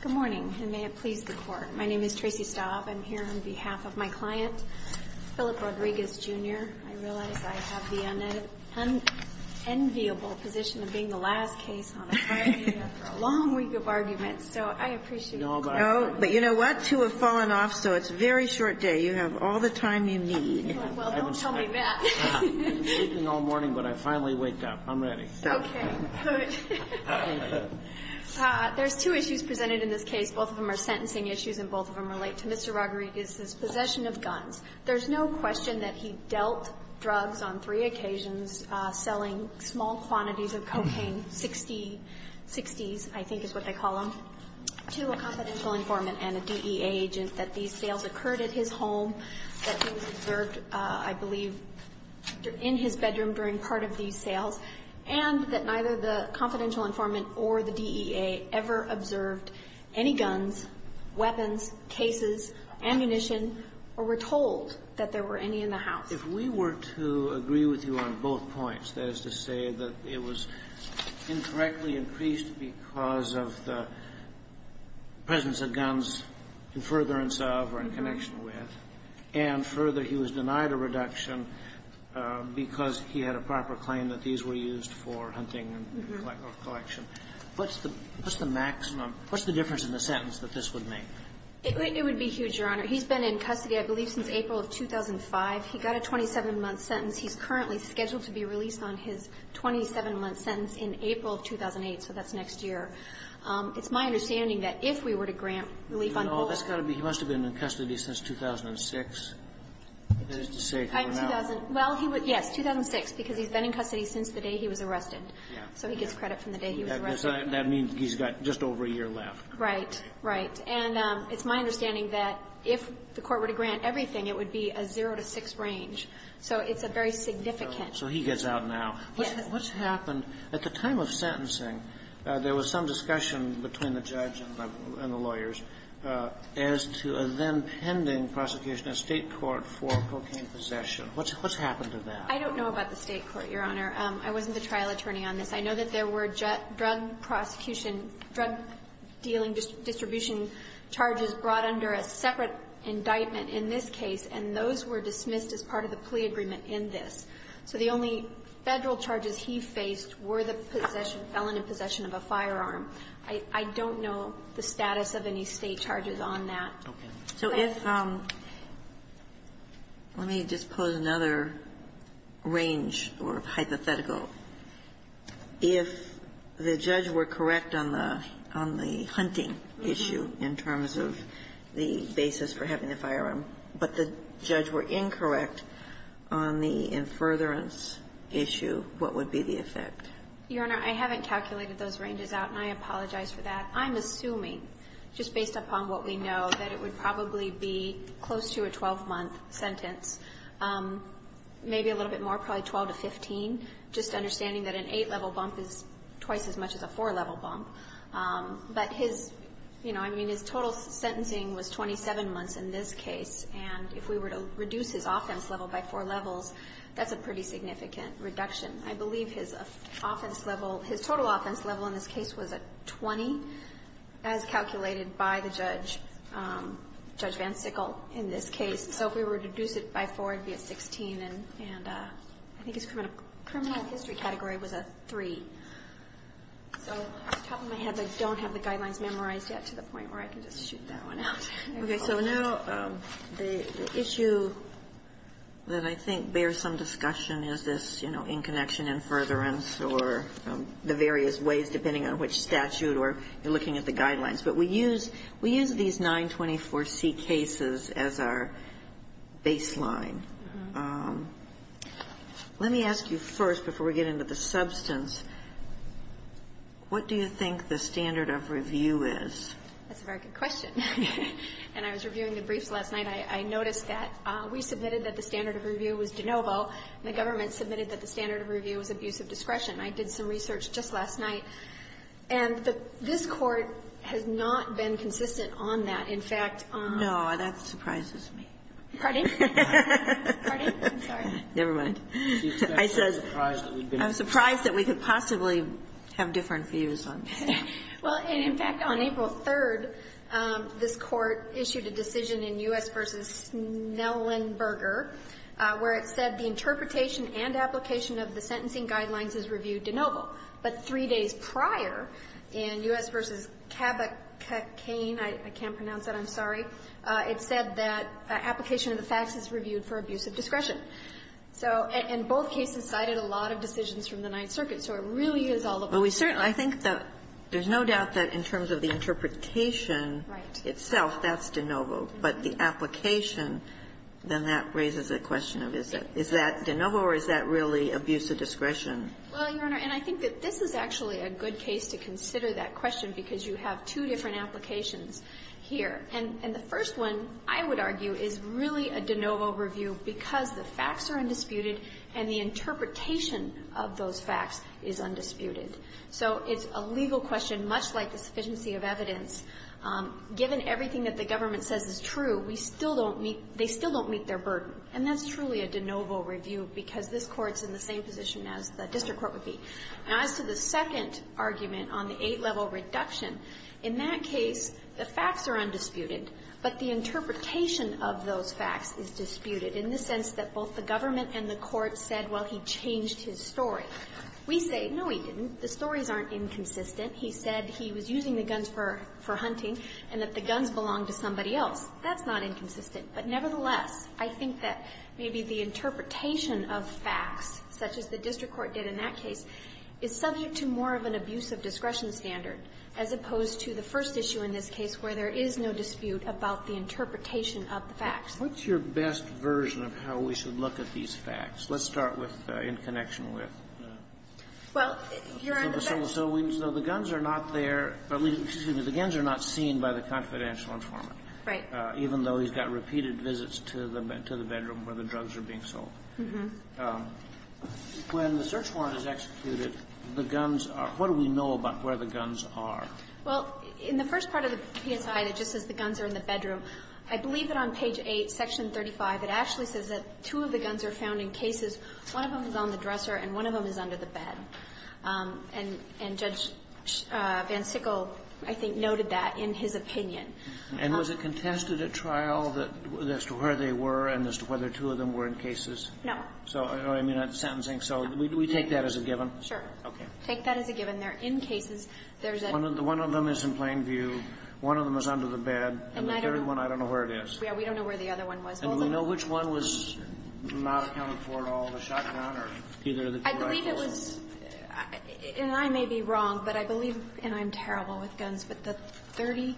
Good morning, and may it please the court. My name is Tracy Staub. I'm here on behalf of my client, Philip Rodriguez, Jr. I realize I have the unenviable position of being the last case on a hearing after a long week of arguments, so I appreciate it. No, but you know what? Two have fallen off, so it's a very short day. You have all the time you need. Well, don't tell me that. I've been sleeping all morning, but I finally waked up. I'm ready. Okay, good. There's two issues presented in this case. Both of them are sentencing issues, and both of them relate to Mr. Rodriguez's possession of guns. There's no question that he dealt drugs on three occasions, selling small quantities of cocaine, 60s, I think is what they call them, to a confidential informant and a DEA agent, that these sales occurred at his home, that he was observed, I believe, in his bedroom during part of these sales, and that neither the confidential informant or the DEA ever observed any guns, weapons, cases, ammunition, or were told that there were any in the house. If we were to agree with you on both points, that is to say that it was incorrectly increased because of the presence of guns in furtherance of or in connection with, and further, he was denied a reduction because he had a proper claim that these were used for hunting and collection. What's the maximum? What's the difference in the sentence that this would make? It would be huge, Your Honor. He's been in custody, I believe, since April of 2005. He got a 27-month sentence. He's currently scheduled to be released on his 27-month sentence in April of 2008, so that's next year. It's my understanding that if we were to grant relief on both of them. Oh, that's got to be he must have been in custody since 2006, that is to say. Well, yes, 2006, because he's been in custody since the day he was arrested. So he gets credit from the day he was arrested. That means he's got just over a year left. Right. Right. And it's my understanding that if the Court were to grant everything, it would be a zero to six range. So it's a very significant. So he gets out now. Yes. What's happened? At the time of sentencing, there was some discussion between the judge and the lawyers as to a then-pending prosecution at State court for cocaine possession. What's happened to that? I don't know about the State court, Your Honor. I wasn't the trial attorney on this. I know that there were drug prosecution, drug dealing distribution charges brought under a separate indictment in this case, and those were dismissed as part of the plea agreement in this. So the only Federal charges he faced were the possession, felon in possession of a firearm. I don't know the status of any State charges on that. Okay. So if, let me just pose another range or hypothetical. If the judge were correct on the hunting issue in terms of the basis for having a firearm, but the judge were incorrect on the in furtherance issue, what would be the effect? Your Honor, I haven't calculated those ranges out, and I apologize for that. I'm assuming, just based upon what we know, that it would probably be close to a 12-month sentence, maybe a little bit more, probably 12 to 15, just understanding that an eight-level bump is twice as much as a four-level bump. But his, you know, I mean, his total sentencing was 27 months in this case, and if we were to reduce his offense level by four levels, that's a pretty significant reduction. I believe his offense level, his total offense level in this case was a 20, as calculated by the judge, Judge Van Sickle, in this case. So if we were to reduce it by four, it would be a 16, and I think his criminal history category was a three. So off the top of my head, I don't have the guidelines memorized yet to the point where I can just shoot that one out. Okay. So now the issue that I think bears some discussion is this, you know, in connection in furtherance or the various ways, depending on which statute or looking at the guidelines. But we use these 924C cases as our baseline. Let me ask you first, before we get into the substance, what do you think the standard of review is? That's a very good question. And I was reviewing the briefs last night. I noticed that we submitted that the standard of review was de novo, and the government submitted that the standard of review was abuse of discretion. I did some research just last night, and this Court has not been consistent on that. In fact, on the ---- No, that surprises me. Pardon? I'm sorry. Never mind. I said ---- I'm surprised that we've been ---- I'm surprised that we could possibly have different views on this. Well, and in fact, on April 3rd, this Court issued a decision in U.S. v. Snellenberger where it said the interpretation and application of the sentencing guidelines is reviewed de novo. But three days prior, in U.S. v. Cabecain, I can't pronounce that. I'm sorry. It said that application of the facts is reviewed for abuse of discretion. So in both cases cited a lot of decisions from the Ninth Circuit. So it really is all about ---- Well, we certainly ---- I think that there's no doubt that in terms of the interpretation itself, that's de novo. But the application, then that raises a question of is that de novo or is that really abuse of discretion? Well, Your Honor, and I think that this is actually a good case to consider that question because you have two different applications here. And the first one, I would argue, is really a de novo review because the facts are undisputed and the interpretation of those facts is undisputed. So it's a legal question, much like the sufficiency of evidence. Given everything that the government says is true, we still don't meet ---- they still don't meet their burden. And that's truly a de novo review because this Court's in the same position as the district court would be. Now, as to the second argument on the eight-level reduction, in that case, the facts are undisputed, but the interpretation of those facts is disputed in the sense that both the government and the court said, well, he changed his story. We say, no, he didn't. The stories aren't inconsistent. He said he was using the guns for hunting and that the guns belonged to somebody else. That's not inconsistent. But nevertheless, I think that maybe the interpretation of facts, such as the district court did in that case, is subject to more of an abuse of discretion standard as opposed to the first issue in this case where there is no dispute about the interpretation of the facts. Kennedy. What's your best version of how we should look at these facts? Let's start with in connection with the guns are not there, or excuse me, the guns are not seen by the confidential informant. Right. Even though he's got repeated visits to the bedroom where the drugs are being sold. When the search warrant is executed, the guns are, what do we know about where the guns are? Well, in the first part of the PSI that just says the guns are in the bedroom, I believe that on page 8, section 35, it actually says that two of the guns are found in cases. One of them is on the dresser and one of them is under the bed. And Judge Van Sickle, I think, noted that in his opinion. And was it contested at trial that as to where they were and as to whether two of them were in cases? No. So I don't know what you mean by sentencing. So we take that as a given? Sure. Okay. Take that as a given. They're in cases. One of them is in plain view. One of them is under the bed. And the third one, I don't know where it is. Yeah. We don't know where the other one was. And we know which one was not accounted for at all, the shotgun or either of the two rifles? I believe it was, and I may be wrong, but I believe, and I'm terrible with guns, but the 30,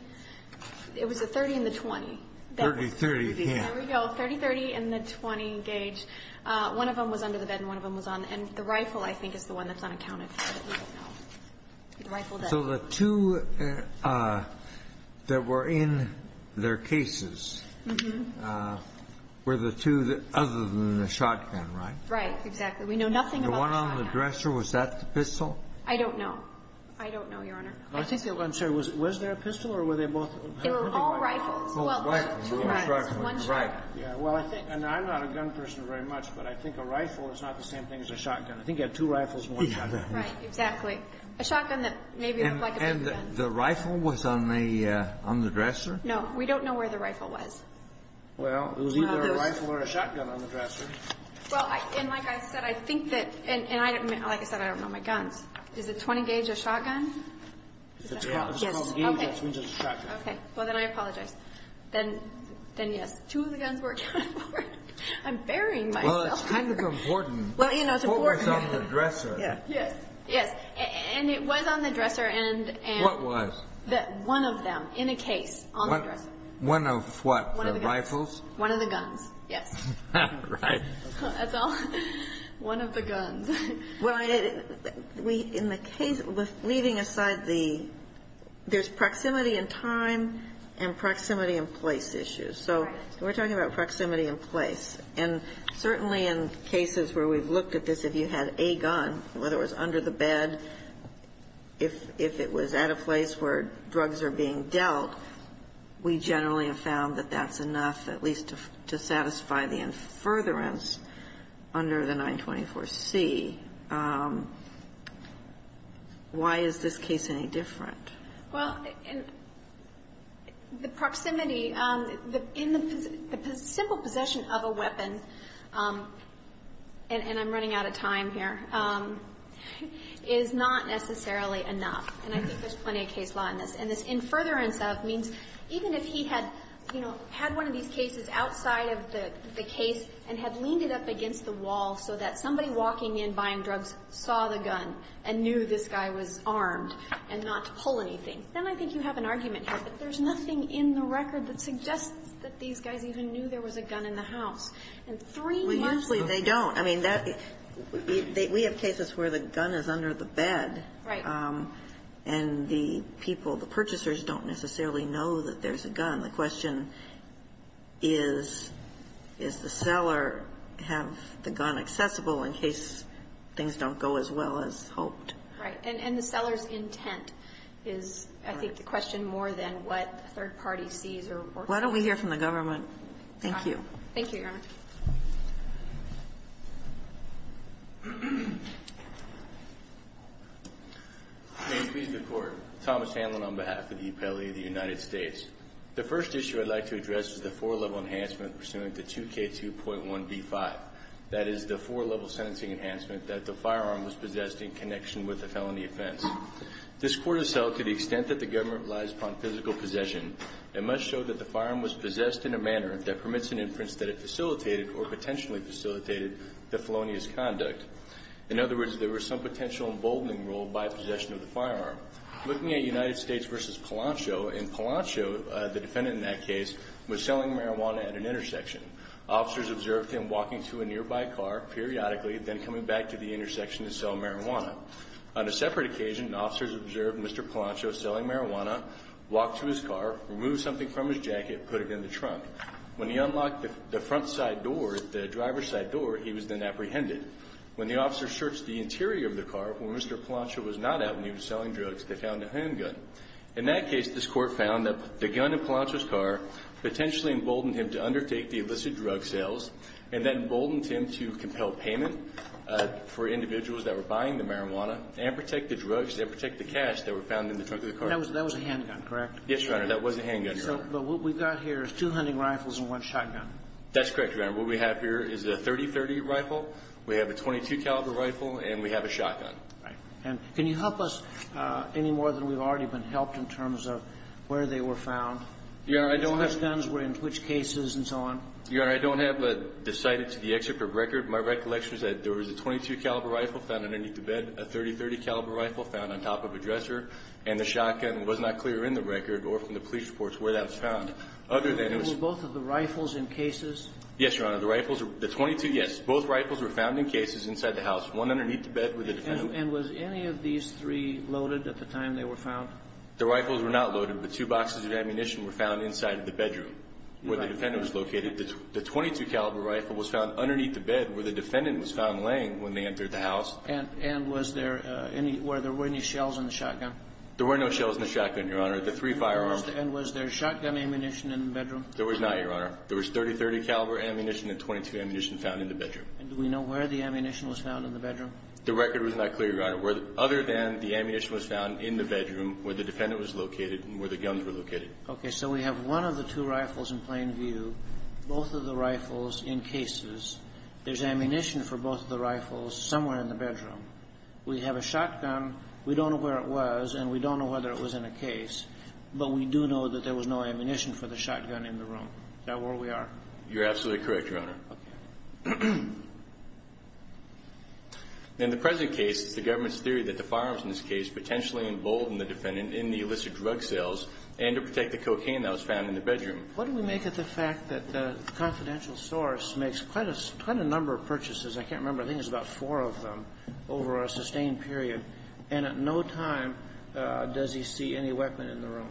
it was the 30 and the 20. 30-30. There we go. 30-30 and the 20 gauge. One of them was under the bed and one of them was on. And the rifle, I think, is the one that's unaccounted for. But we don't know. So the two that were in their cases were the two other than the shotgun, right? Right. Exactly. We know nothing about the shotgun. The one on the dresser, was that the pistol? I don't know. I don't know, Your Honor. I'm sorry. Was there a pistol or were they both? They were all rifles. Both rifles. One shotgun. Well, I think, and I'm not a gun person very much, but I think a rifle is not the same thing as a shotgun. I think you had two rifles and one shotgun. Right. Exactly. A shotgun that maybe looked like a shotgun. And the rifle was on the dresser? No. We don't know where the rifle was. Well, it was either a rifle or a shotgun on the dresser. Well, and like I said, I think that, and like I said, I don't know my guns. Is the 20 gauge a shotgun? Yes. It's called a gauge, which means it's a shotgun. Okay. Well, then I apologize. Then, yes, two of the guns were a shotgun. I'm burying myself. Well, it's kind of important. Well, you know, it's important. What was on the dresser? Yes. Yes. And it was on the dresser. What was? One of them in a case on the dresser. One of what? The rifles? One of the guns. Yes. Right. That's all. One of the guns. Well, in the case, leaving aside the, there's proximity in time and proximity in place issues. Right. So we're talking about proximity in place. And certainly in cases where we've looked at this, if you had a gun, whether it was under the bed, if it was at a place where drugs are being dealt, we generally have found that that's enough at least to satisfy the infuriance under the 924C. Why is this case any different? Well, the proximity, the simple possession of a weapon, and I'm running out of time here, is not necessarily enough. And I think there's plenty of case law in this. And this infuriance of means even if he had, you know, had one of these cases outside of the case and had leaned it up against the wall so that somebody walking in buying drugs saw the gun and knew this guy was armed and not to pull anything, then I think you have an argument here that there's nothing in the record that suggests that these guys even knew there was a gun in the house. And three months ago Well, usually they don't. I mean, that, we have cases where the gun is under the bed. Right. And the people, the purchasers don't necessarily know that there's a gun. The question is, does the seller have the gun accessible in case things don't go as well as hoped? Right. And the seller's intent is, I think, the question more than what the third party sees or Why don't we hear from the government? Thank you. Thank you, Your Honor. May it please the Court. Thomas Hanlon on behalf of the Appellate of the United States. The first issue I'd like to address is the four-level enhancement pursuant to 2K2.1b5. That is the four-level sentencing enhancement that the firearm was possessed in connection with the felony offense. This Court has held to the extent that the government relies upon physical possession, it must show that the firearm was possessed in a manner that permits an inference that it facilitated or potentially facilitated the felonious conduct. In other words, there was some potential emboldening role by possession of the firearm. Looking at United States v. Palancho, in Palancho, the defendant in that case, was selling marijuana at an intersection. Officers observed him walking to a nearby car periodically, then coming back to the intersection to sell marijuana. On a separate occasion, officers observed Mr. Palancho selling marijuana, walked to his car, removed something from his jacket, put it in the trunk. When he unlocked the front side door, the driver's side door, he was then apprehended. When the officers searched the interior of the car, when Mr. Palancho was not out and he was selling drugs, they found a handgun. In that case, this Court found that the gun in Palancho's car potentially emboldened him to undertake the illicit drug sales, and that emboldened him to compel payment for individuals that were buying the marijuana and protect the drugs and protect the cash that were found in the trunk of the car. That was a handgun, correct? Yes, Your Honor, that was a handgun. But what we've got here is two hunting rifles and one shotgun. That's correct, Your Honor. What we have here is a .30-30 rifle. We have a .22-caliber rifle, and we have a shotgun. Right. And can you help us any more than we've already been helped in terms of where they were found? Your Honor, I don't have the... Which guns were in which cases and so on? Your Honor, I don't have the cited to the excerpt of record. My recollection is that there was a .22-caliber rifle found underneath the bed, a .30-30 caliber rifle found on top of a dresser, and the shotgun was not clear in the record or from the police reports where that was found, other than it was... Were both of the rifles in cases? Yes, Your Honor. The rifles were... The .22, yes. Both rifles were found in cases inside the house. One underneath the bed where the defendant... And was any of these three loaded at the time they were found? The rifles were not loaded, but two boxes of ammunition were found inside the bedroom where the defendant was located. The .22-caliber rifle was found underneath the bed where the defendant was found laying when they entered the house. And was there any... Were there any shells in the shotgun? There were no shells in the shotgun, Your Honor. The three firearms... And was there shotgun ammunition in the bedroom? There was not, Your Honor. There was .30-30 caliber ammunition and .22 ammunition found in the bedroom. And do we know where the ammunition was found in the bedroom? The record was not clear, Your Honor, other than the ammunition was found in the bedroom where the defendant was located and where the guns were located. Okay. So we have one of the two rifles in plain view, both of the rifles in cases. There's ammunition for both of the rifles somewhere in the bedroom. We have a shotgun. We don't know where it was and we don't know whether it was in a case, but we do know that there was no ammunition for the shotgun in the room. Is that where we are? You're absolutely correct, Your Honor. Okay. In the present case, it's the government's theory that the firearms in this case potentially embolden the defendant in the illicit drug sales and to protect the cocaine that was found in the bedroom. What do we make of the fact that the confidential source makes quite a number of purchases? I can't remember. I think it's about four of them over a sustained period. And at no time does he see any weapon in the room.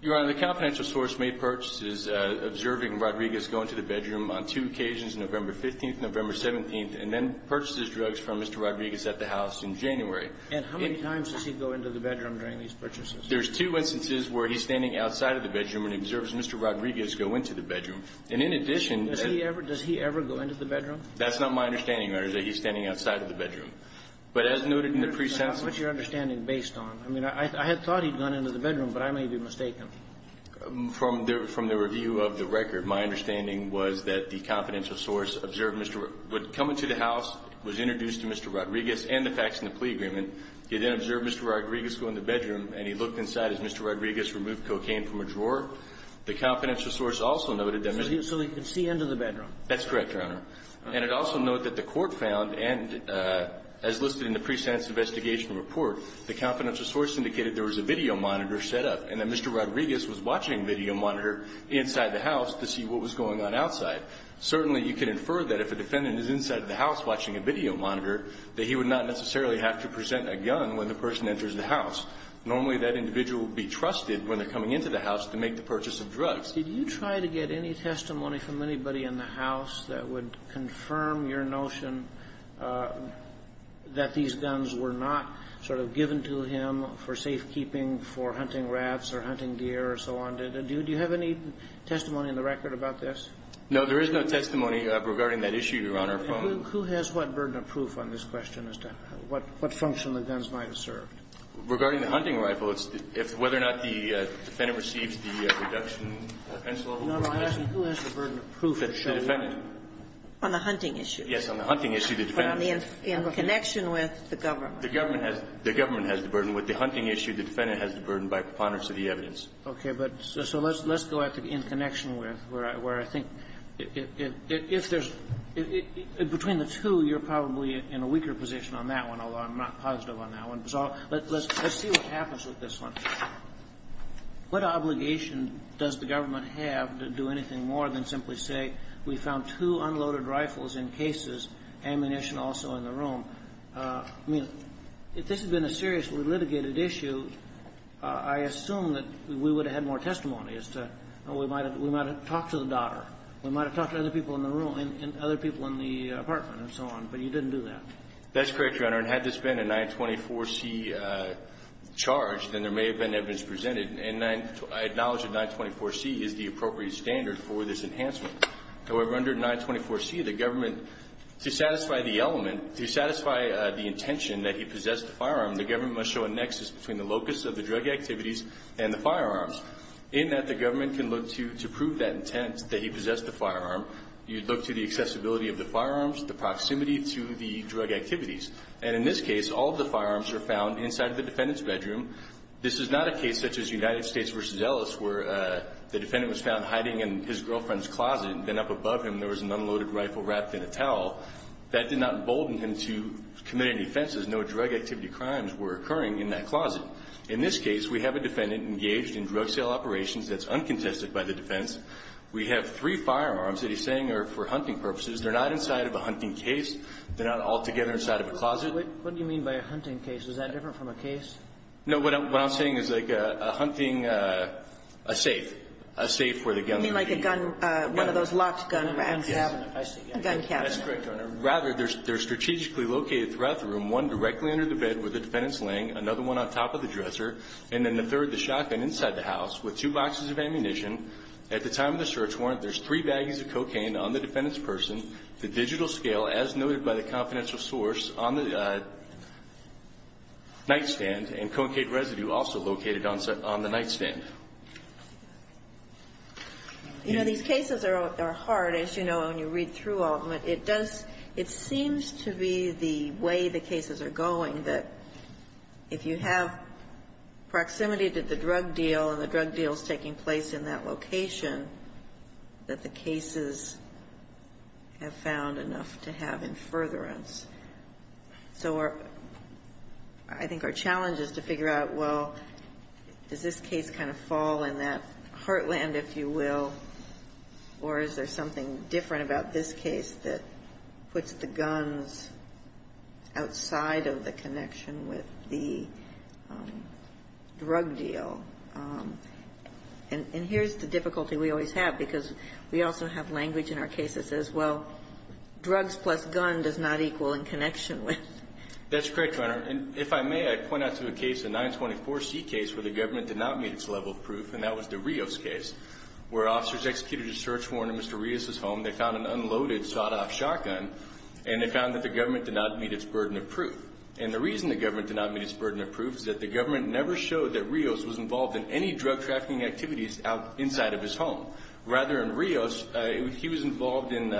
Your Honor, the confidential source made purchases observing Rodriguez go into the bedroom on two occasions, November 15th and November 17th, and then purchases drugs from Mr. Rodriguez at the house in January. And how many times does he go into the bedroom during these purchases? There's two instances where he's standing outside of the bedroom and observes Mr. Rodriguez go into the bedroom. And in addition to that he ever goes into the bedroom? That's not my understanding, Your Honor, is that he's standing outside of the bedroom. But as noted in the pre-sentence of the case. What's your understanding based on? I mean, I had thought he'd gone into the bedroom, but I may be mistaken. From the review of the record, my understanding was that the confidential source observed Mr. Rodriguez would come into the house, was introduced to Mr. Rodriguez and the facts in the plea agreement. He then observed Mr. Rodriguez go into the bedroom, and he looked inside as Mr. Rodriguez removed cocaine from a drawer. The confidential source also noted that Mr. Rodriguez. So he could see into the bedroom. That's correct, Your Honor. And it also noted that the court found, and as listed in the pre-sense investigation report, the confidential source indicated there was a video monitor set up and that Mr. Rodriguez was watching video monitor inside the house to see what was going on outside. Certainly you can infer that if a defendant is inside the house watching a video monitor, that he would not necessarily have to present a gun when the person enters the house. Normally that individual would be trusted when they're coming into the house to make the purchase of drugs. Did you try to get any testimony from anybody in the house that would confirm your notion that these guns were not sort of given to him for safekeeping for hunting rats or hunting deer or so on? Do you have any testimony in the record about this? No. There is no testimony regarding that issue, Your Honor. Who has what burden of proof on this question as to what function the guns might have served? Regarding the hunting rifle, it's whether or not the defendant receives the reduction of the penalty. No, no. Who has the burden of proof? The defendant. On the hunting issue. Yes. On the hunting issue, the defendant. In connection with the government. The government has the burden. With the hunting issue, the defendant has the burden by preponderance of the evidence. Okay. But so let's go back to in connection with, where I think if there's – between the two, you're probably in a weaker position on that one, although I'm not positive on that one. So let's see what happens with this one. What obligation does the government have to do anything more than simply say, we found two unloaded rifles in cases, ammunition also in the room? I mean, if this had been a seriously litigated issue, I assume that we would have had more testimony as to, we might have talked to the daughter. We might have talked to other people in the room and other people in the apartment and so on. But you didn't do that. That's correct, Your Honor. And had this been a 924C charge, then there may have been evidence presented. And I acknowledge that 924C is the appropriate standard for this enhancement. However, under 924C, the government, to satisfy the element, to satisfy the intention that he possessed a firearm, the government must show a nexus between the locus of the drug activities and the firearms. In that, the government can look to prove that intent, that he possessed a firearm. You'd look to the accessibility of the firearms, the proximity to the drug activities. And in this case, all of the firearms are found inside the defendant's bedroom. This is not a case such as United States v. Ellis where the defendant was found hiding in his girlfriend's closet and then up above him there was an unloaded rifle wrapped in a towel. That did not embolden him to commit any offenses. No drug activity crimes were occurring in that closet. In this case, we have a defendant engaged in drug sale operations that's uncontested by the defense. We have three firearms that he's saying are for hunting purposes. They're not inside of a hunting case. They're not altogether inside of a closet. Kagan. Wait. What do you mean by a hunting case? Is that different from a case? No. What I'm saying is like a hunting safe, a safe where the gun could be. You mean like a gun, one of those locked gun racks. Yes. I see. A gun cabinet. That's correct, Your Honor. Rather, they're strategically located throughout the room, one directly under the bed where the defendant's laying, another one on top of the dresser, and then the third, the shotgun inside the house with two boxes of ammunition. At the time of the search warrant, there's three baggies of cocaine on the defendant's person, the digital scale, as noted by the confidential source, on the nightstand, and concave residue also located on the nightstand. You know, these cases are hard, as you know, when you read through all of them. But it does seem to be the way the cases are going that if you have proximity to the drug deal and the drug deal is taking place in that location, that the cases have found enough to have in furtherance. So I think our challenge is to figure out, well, does this case kind of fall in that category? Is it a case that puts the guns outside of the connection with the drug deal? And here's the difficulty we always have, because we also have language in our cases that says, well, drugs plus gun does not equal in connection with. That's correct, Your Honor. And if I may, I point out to a case, a 924C case, where the government did not meet its level of proof, and that was the Rios case, where officers executed a search warrant in Mr. Rios' home. They found an unloaded, sawed-off shotgun, and they found that the government did not meet its burden of proof. And the reason the government did not meet its burden of proof is that the government never showed that Rios was involved in any drug-trafficking activities inside of his home. Rather, in Rios, he was involved in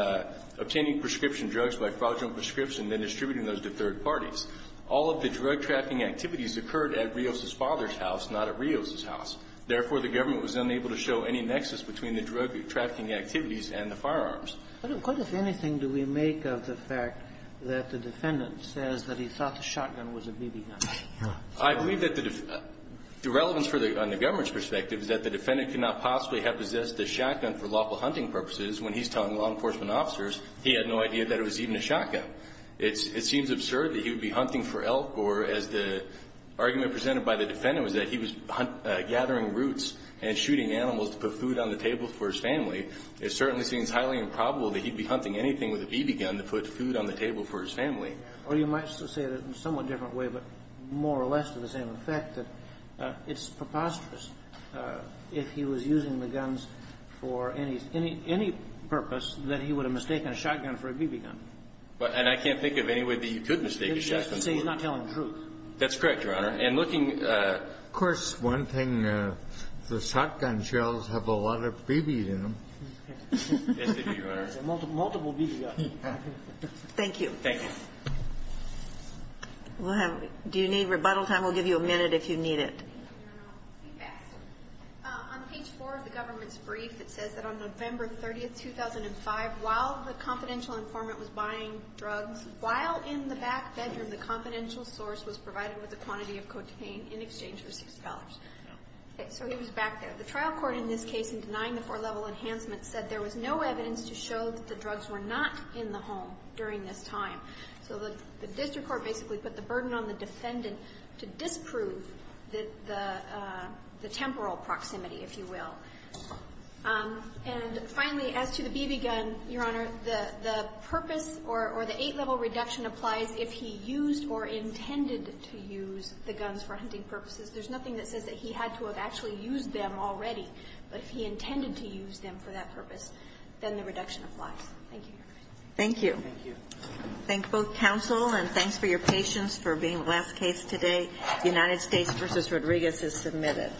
obtaining prescription drugs by fraudulent prescription, then distributing those to third parties. All of the drug-trafficking activities occurred at Rios' father's house, not at Rios' house. Therefore, the government was unable to show any nexus between the drug-trafficking activities and the firearms. But what, if anything, do we make of the fact that the defendant says that he thought the shotgun was a BB gun? I believe that the relevance for the government's perspective is that the defendant could not possibly have possessed the shotgun for lawful hunting purposes when he's telling law enforcement officers he had no idea that it was even a shotgun. It seems absurd that he would be hunting for elk or, as the argument presented by the defendant was that he was gathering roots and shooting animals to put food on the table for his family, it certainly seems highly improbable that he'd be hunting anything with a BB gun to put food on the table for his family. Or you might say it in a somewhat different way, but more or less to the same effect, that it's preposterous if he was using the guns for any purpose, that he would have mistaken a shotgun for a BB gun. And I can't think of any way that you could mistake a shotgun for a BB gun. Say he's not telling the truth. That's correct, Your Honor. And looking, of course, one thing, the shotgun shells have a lot of BBs in them. Yes, they do, Your Honor. Multiple BB guns. Thank you. Thank you. Do you need rebuttal time? We'll give you a minute if you need it. On page 4 of the government's brief, it says that on November 30th, 2005, while the confidential informant was buying drugs, while in the back bedroom, the confidential source was provided with a quantity of cocaine in exchange for $6. So he was back there. The trial court in this case in denying the four-level enhancement said there was no evidence to show that the drugs were not in the home during this time. So the district court basically put the burden on the defendant to disprove the temporal proximity, if you will. And finally, as to the BB gun, Your Honor, the purpose or the eight-level reduction applies if he used or intended to use the guns for hunting purposes. There's nothing that says that he had to have actually used them already. But if he intended to use them for that purpose, then the reduction applies. Thank you, Your Honor. Thank you. Thank you. Thank both counsel, and thanks for your patience for being the last case today. The United States v. Rodriguez is submitted.